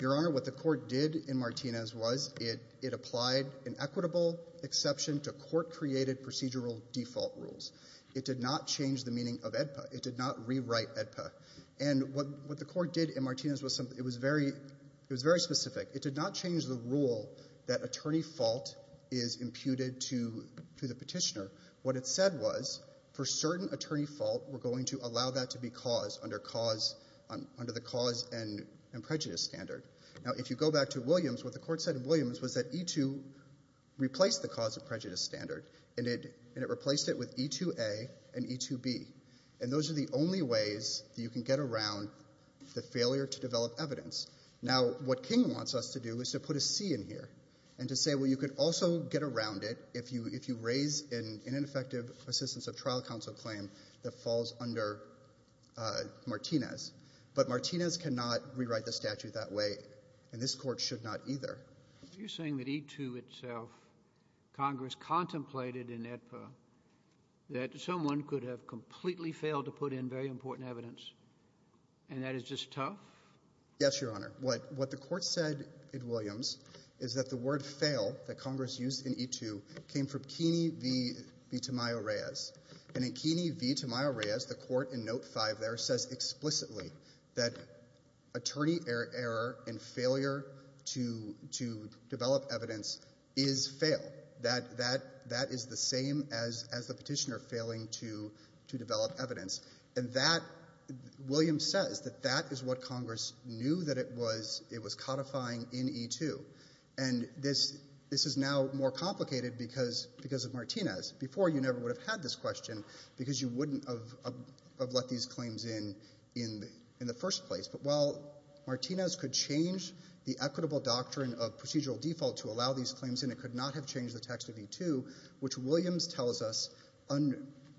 Your Honor, what the Court did in Martinez was it applied an equitable exception to court‑created procedural default rules. It did not change the meaning of AEDPA. It did not rewrite AEDPA. And what the Court did in Martinez was something ‑‑ it was very specific. It did not change the rule that attorney fault is imputed to the petitioner. What it said was for certain attorney fault, we're going to allow that to be caused under the cause and prejudice standard. Now, if you go back to Williams, what the Court said in Williams was that E‑2 replaced the cause and prejudice standard, and it replaced it with E‑2A and E‑2B. And those are the only ways that you can get around the failure to develop evidence. Now, what King wants us to do is to put a C in here and to say, well, you could also get around it if you raise an ineffective assistance of trial counsel claim that falls under Martinez. But Martinez cannot rewrite the statute that way, and this Court should not either. You're saying that E‑2 itself, Congress contemplated in AEDPA that someone could have completely failed to put in very important evidence, and that is just tough? Yes, Your Honor. What the Court said in Williams is that the word fail that Congress used in E‑2 came from Keeney v. Tamayo-Reyes. And in Keeney v. Tamayo-Reyes, the Court in Note 5 there says explicitly that attorney error and failure to develop evidence is fail. That is the same as the petitioner failing to develop evidence. And that, Williams says, that that is what Congress knew that it was codifying in E‑2. And this is now more complicated because of Martinez. Before, you never would have had this question because you wouldn't have let these claims in in the first place. But while Martinez could change the equitable doctrine of procedural default to allow these claims in, it could not have changed the text of E‑2, which Williams tells us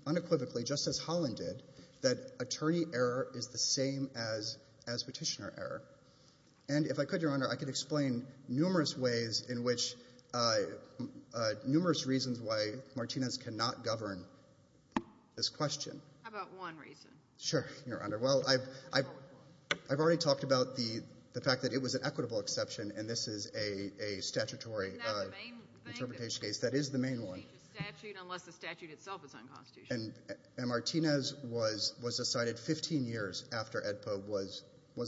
unequivocally, just as Holland did, that attorney error is the same as petitioner error. And if I could, Your Honor, I could explain numerous ways in which numerous reasons why Martinez cannot govern this question. How about one reason? Sure, Your Honor. Well, I've already talked about the fact that it was an equitable exception, and this is a statutory interpretation case. Isn't that the main thing? That is the main one. You can't change the statute unless the statute itself is unconstitutional. And Martinez was decided 15 years after AEDPA was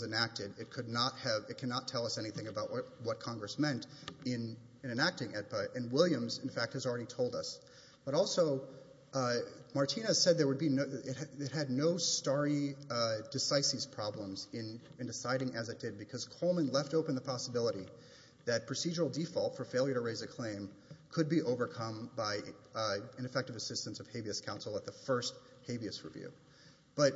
enacted. It cannot tell us anything about what Congress meant in enacting AEDPA, and Williams, in fact, has already told us. But also, Martinez said it had no starry decisis problems in deciding as it did because Coleman left open the possibility that procedural default for failure to raise a claim could be overcome by ineffective assistance of habeas counsel at the first habeas review. But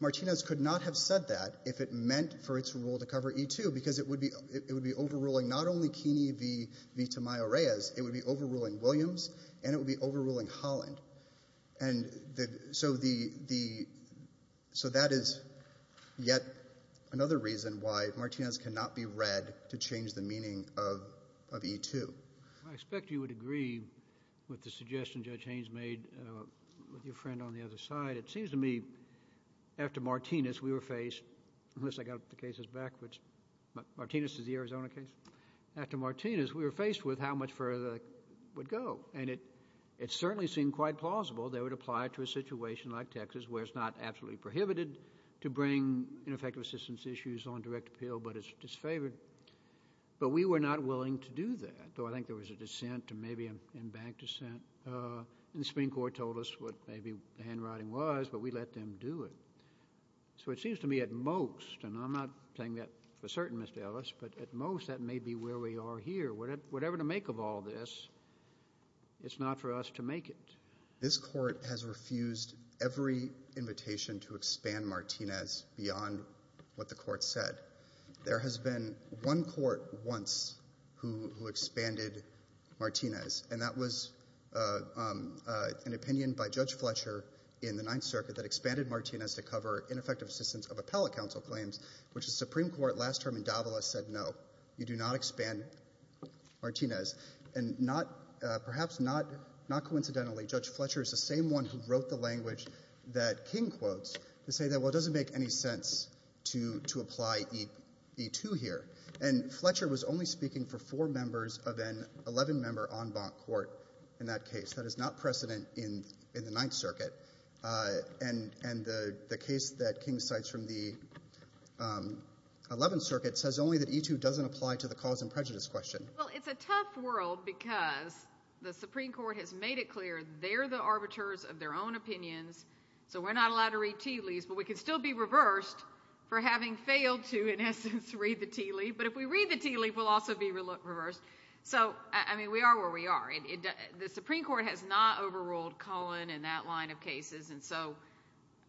Martinez could not have said that if it meant for its rule to cover E-2 because it would be overruling not only Keeney v. Tamayo-Reyes, it would be overruling Williams and it would be overruling Holland. And so that is yet another reason why Martinez cannot be read to change the meaning of E-2. I expect you would agree with the suggestion Judge Haynes made with your friend on the other side. It seems to me after Martinez we were faced, unless I got the cases backwards. Martinez is the Arizona case. After Martinez we were faced with how much further it would go, and it certainly seemed quite plausible they would apply to a situation like Texas where it's not absolutely prohibited to bring ineffective assistance issues on direct appeal but it's disfavored. But we were not willing to do that, though I think there was a dissent and maybe a bank dissent, and the Supreme Court told us what maybe the handwriting was, but we let them do it. So it seems to me at most, and I'm not saying that for certain, Mr. Ellis, but at most that may be where we are here. Whatever the make of all this, it's not for us to make it. This court has refused every invitation to expand Martinez beyond what the court said. There has been one court once who expanded Martinez, and that was an opinion by Judge Fletcher in the Ninth Circuit that expanded Martinez to cover ineffective assistance of appellate counsel claims, which the Supreme Court last term in Davila said no, you do not expand Martinez. And perhaps not coincidentally, Judge Fletcher is the same one who wrote the language that King quotes to say that, well, it doesn't make any sense to apply E2 here. And Fletcher was only speaking for four members of an 11-member en banc court in that case. That is not precedent in the Ninth Circuit. And the case that King cites from the Eleventh Circuit says only that E2 doesn't apply to the cause and prejudice question. Well, it's a tough world because the Supreme Court has made it clear that they're the arbiters of their own opinions, so we're not allowed to read tea leaves, but we can still be reversed for having failed to, in essence, read the tea leaf. But if we read the tea leaf, we'll also be reversed. So, I mean, we are where we are. The Supreme Court has not overruled Cullen in that line of cases, and so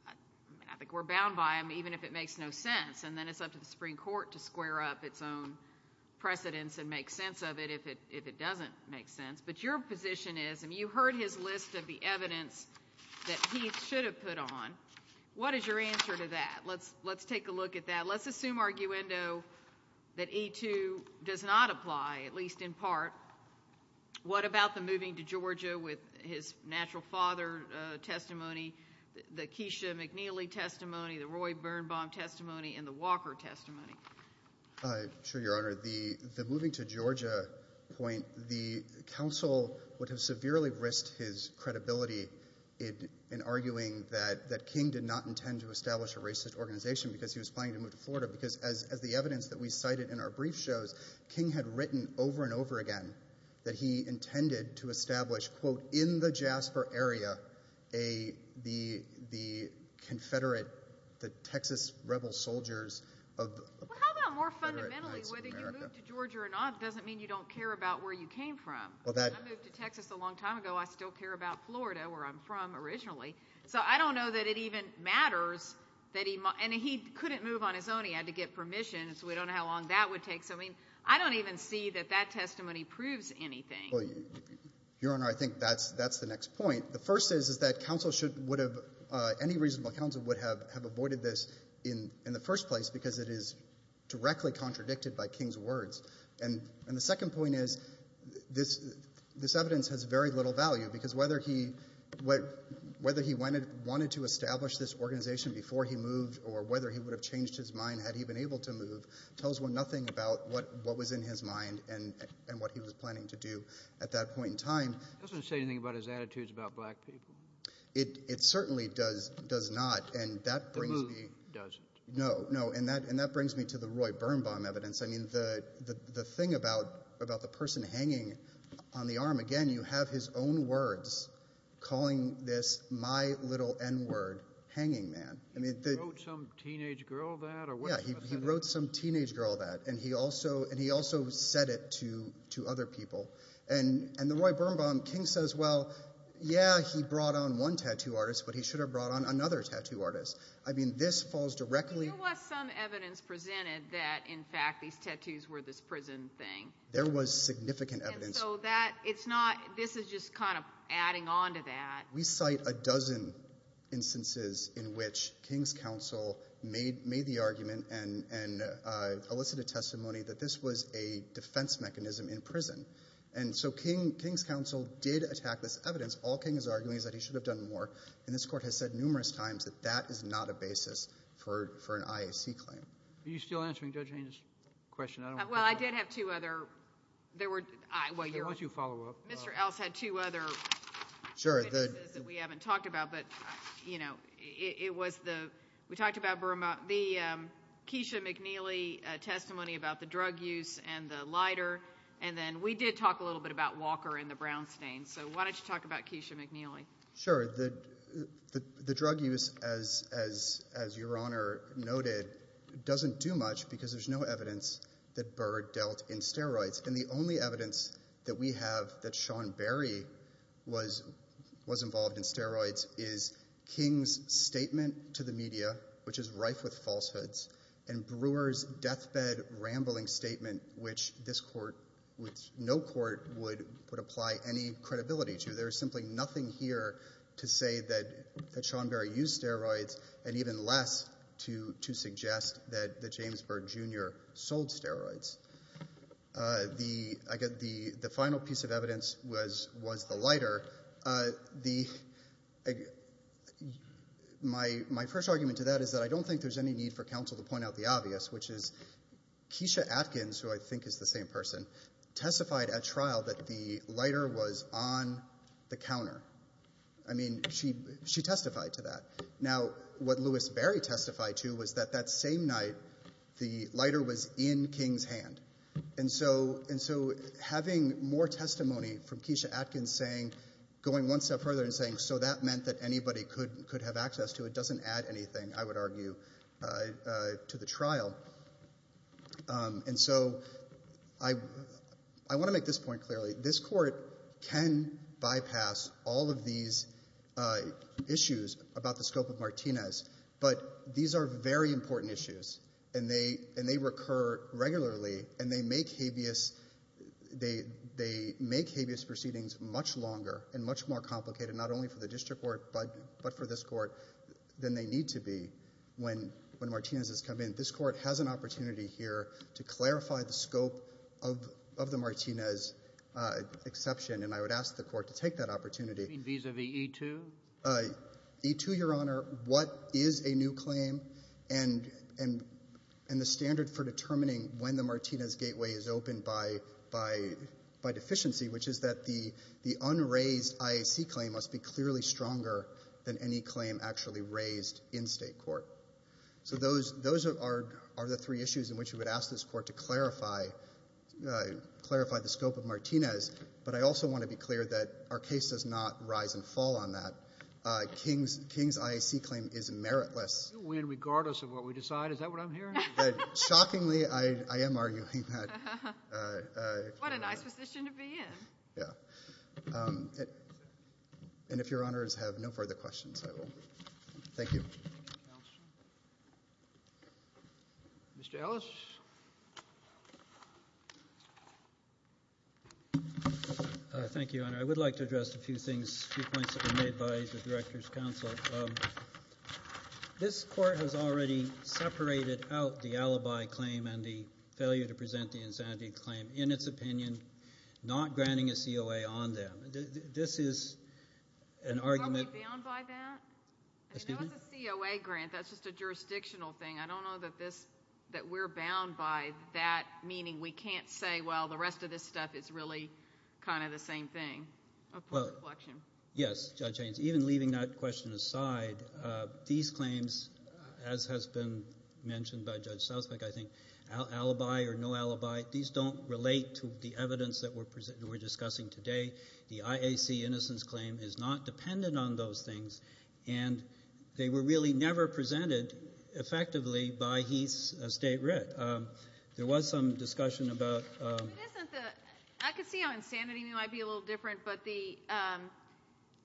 I think we're bound by him even if it makes no sense. And then it's up to the Supreme Court to square up its own precedence and make sense of it if it doesn't make sense. But your position is, and you heard his list of the evidence that he should have put on. What is your answer to that? Let's take a look at that. Let's assume arguendo that E2 does not apply, at least in part. What about the moving to Georgia with his natural father testimony, the Keisha McNeely testimony, the Roy Birnbaum testimony, and the Walker testimony? Sure, Your Honor. The moving to Georgia point, the counsel would have severely risked his credibility in arguing that King did not intend to establish a racist organization because he was planning to move to Florida because, as the evidence that we cited in our brief shows, King had written over and over again that he intended to establish, quote, in the Jasper area the Confederate, the Texas rebel soldiers of the Confederate Knights of America. Well, how about more fundamentally whether you moved to Georgia or not doesn't mean you don't care about where you came from. I moved to Texas a long time ago. I still care about Florida, where I'm from originally. So I don't know that it even matters that he – and he couldn't move on his own. He had to get permission, so we don't know how long that would take. So I mean I don't even see that that testimony proves anything. Your Honor, I think that's the next point. The first is that counsel should – any reasonable counsel would have avoided this in the first place because it is directly contradicted by King's words. And the second point is this evidence has very little value because whether he wanted to establish this organization before he moved or whether he would have changed his mind had he been able to move tells one nothing about what was in his mind and what he was planning to do at that point in time. It doesn't say anything about his attitudes about black people. It certainly does not, and that brings me – The move doesn't. No, no, and that brings me to the Roy Birnbaum evidence. I mean the thing about the person hanging on the arm, again, you have his own words calling this my little n-word, hanging man. He wrote some teenage girl that? Yeah, he wrote some teenage girl that, and he also said it to other people. And the Roy Birnbaum, King says, well, yeah, he brought on one tattoo artist, but he should have brought on another tattoo artist. I mean this falls directly – There was some evidence presented that, in fact, these tattoos were this prison thing. There was significant evidence. And so that, it's not, this is just kind of adding on to that. We cite a dozen instances in which King's counsel made the argument and elicited testimony that this was a defense mechanism in prison. And so King's counsel did attack this evidence. All King is arguing is that he should have done more, and this court has said numerous times that that is not a basis for an IAC claim. Are you still answering Judge Haynes' question? Well, I did have two other. Why don't you follow up? Mr. Ellis had two other witnesses that we haven't talked about, but, you know, it was the, we talked about the Keisha McNeely testimony about the drug use and the lighter, and then we did talk a little bit about Walker and the brown stains. So why don't you talk about Keisha McNeely? Sure. The drug use, as Your Honor noted, doesn't do much because there's no evidence that Byrd dealt in steroids. And the only evidence that we have that Sean Berry was involved in steroids is King's statement to the media, which is rife with falsehoods, and Brewer's deathbed rambling statement, which this court, which no court would apply any credibility to. There is simply nothing here to say that Sean Berry used steroids and even less to suggest that James Byrd Jr. sold steroids. The final piece of evidence was the lighter. My first argument to that is that I don't think there's any need for counsel to point out the obvious, which is Keisha Atkins, who I think is the same person, testified at trial that the lighter was on the counter. I mean, she testified to that. Now, what Louis Berry testified to was that that same night the lighter was in King's hand. And so having more testimony from Keisha Atkins going one step further and saying, so that meant that anybody could have access to it doesn't add anything, I would argue, to the trial. And so I want to make this point clearly. This court can bypass all of these issues about the scope of Martinez, but these are very important issues, and they recur regularly, and they make habeas proceedings much longer and much more complicated, not only for the district court but for this court, than they need to be when Martinez has come in. This court has an opportunity here to clarify the scope of the Martinez exception, and I would ask the court to take that opportunity. You mean vis-a-vis E-2? E-2, Your Honor, what is a new claim, and the standard for determining when the Martinez gateway is opened by deficiency, which is that the unraised IAC claim must be clearly stronger than any claim actually raised in state court. So those are the three issues in which we would ask this court to clarify the scope of Martinez, but I also want to be clear that our case does not rise and fall on that. King's IAC claim is meritless. You win regardless of what we decide. Is that what I'm hearing? Shockingly, I am arguing that. What a nice position to be in. Yeah. And if Your Honors have no further questions, I will leave. Thank you. Thank you, Counsel. Mr. Ellis. Thank you, Your Honor. I would like to address a few things, a few points that were made by the Director's Counsel. This court has already separated out the alibi claim and the failure to present the insanity claim in its opinion, not granting a COA on them. This is an argument. Are we bound by that? Excuse me? That was a COA grant. That's just a jurisdictional thing. I don't know that we're bound by that, meaning we can't say, well, the rest of this stuff is really kind of the same thing. Yes, Judge Haynes. Even leaving that question aside, these claims, as has been mentioned by Judge Southwick, I think alibi or no alibi, these don't relate to the evidence that we're discussing today. The IAC innocence claim is not dependent on those things, and they were really never presented effectively by Heath's estate writ. There was some discussion about the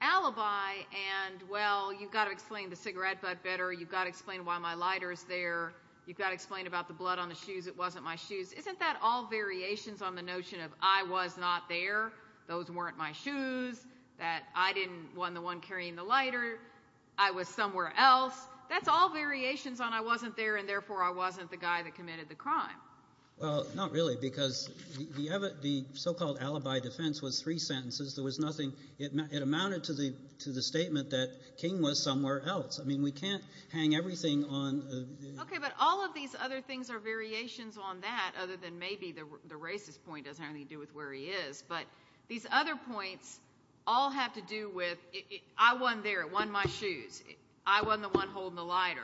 alibi and, well, you've got to explain the cigarette butt better, you've got to explain why my lighter is there, you've got to explain about the blood on the shoes, it wasn't my shoes. Isn't that all variations on the notion of I was not there? Those weren't my shoes, that I didn't, wasn't the one carrying the lighter, I was somewhere else. That's all variations on I wasn't there and, therefore, I wasn't the guy that committed the crime. Well, not really because the so-called alibi defense was three sentences. There was nothing. It amounted to the statement that King was somewhere else. I mean we can't hang everything on. Okay, but all of these other things are variations on that other than maybe the racist point doesn't have anything to do with where he is. But these other points all have to do with I wasn't there, it wasn't my shoes. I wasn't the one holding the lighter.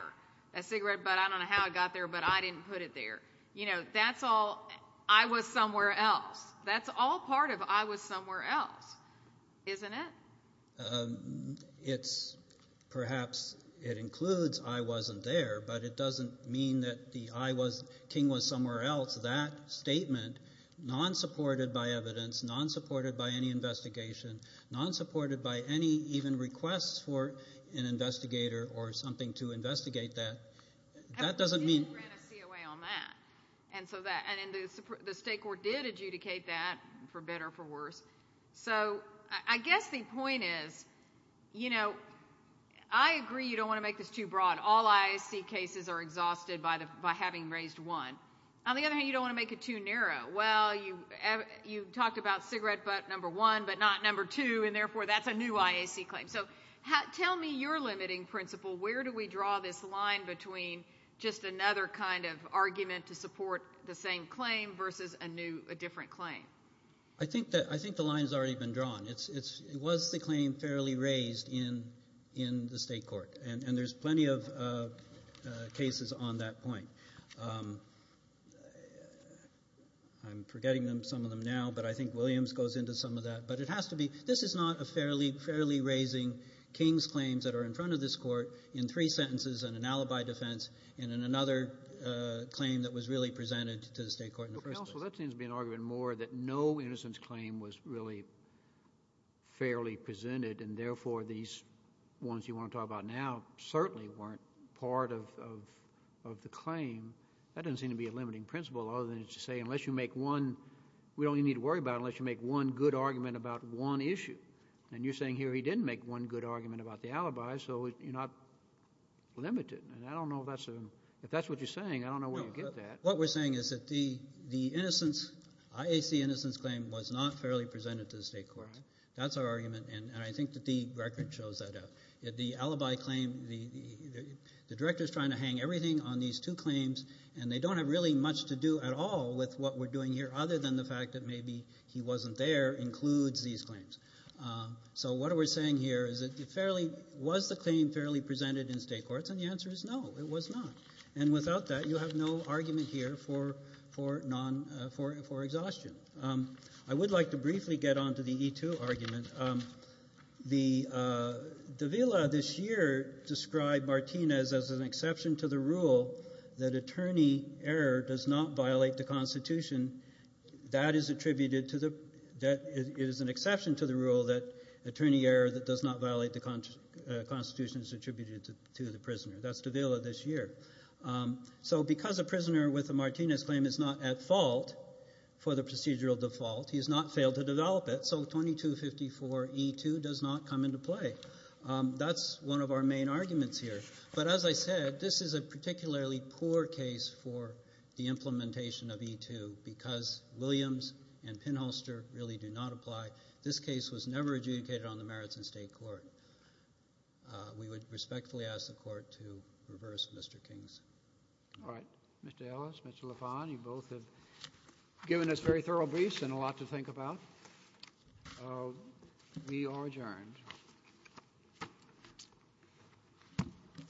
That cigarette butt, I don't know how it got there, but I didn't put it there. You know, that's all I was somewhere else. That's all part of I was somewhere else, isn't it? It's perhaps it includes I wasn't there, but it doesn't mean that the I was, King was somewhere else. That statement, non-supported by evidence, non-supported by any investigation, non-supported by any even requests for an investigator or something to investigate that, that doesn't mean. I ran a COA on that. And the state court did adjudicate that, for better or for worse. So I guess the point is, you know, I agree you don't want to make this too broad. All I see cases are exhausted by having raised one. On the other hand, you don't want to make it too narrow. Well, you talked about cigarette butt number one, but not number two, and therefore that's a new IAC claim. So tell me your limiting principle. Where do we draw this line between just another kind of argument to support the same claim versus a different claim? I think the line has already been drawn. It was the claim fairly raised in the state court, and there's plenty of cases on that point. I'm forgetting some of them now, but I think Williams goes into some of that. But it has to be. This is not a fairly raising King's claims that are in front of this court in three sentences and an alibi defense and in another claim that was really presented to the state court. Counsel, that seems to be an argument more that no innocence claim was really fairly presented, and therefore these ones you want to talk about now certainly weren't part of the claim. That doesn't seem to be a limiting principle other than to say unless you make one we don't even need to worry about it unless you make one good argument about one issue. And you're saying here he didn't make one good argument about the alibi, so you're not limited. And I don't know if that's what you're saying. I don't know where you get that. What we're saying is that the innocence, IAC innocence claim was not fairly presented to the state court. That's our argument, and I think that the record shows that out. The alibi claim, the director is trying to hang everything on these two claims, and they don't have really much to do at all with what we're doing here other than the fact that maybe he wasn't there includes these claims. So what we're saying here is was the claim fairly presented in state courts? And the answer is no, it was not. And without that, you have no argument here for exhaustion. I would like to briefly get on to the E2 argument. Davila this year described Martinez as an exception to the rule that attorney error does not violate the Constitution. That is attributed to the rule that attorney error that does not violate the Constitution is attributed to the prisoner. That's Davila this year. So because a prisoner with a Martinez claim is not at fault for the procedural default, he has not failed to develop it, so 2254E2 does not come into play. That's one of our main arguments here. But as I said, this is a particularly poor case for the implementation of E2 because Williams and Penholster really do not apply. This case was never adjudicated on the merits in state court. We would respectfully ask the court to reverse Mr. King's. All right. Mr. Ellis, Mr. LaFont, you both have given us very thorough briefs and a lot to think about. We are adjourned.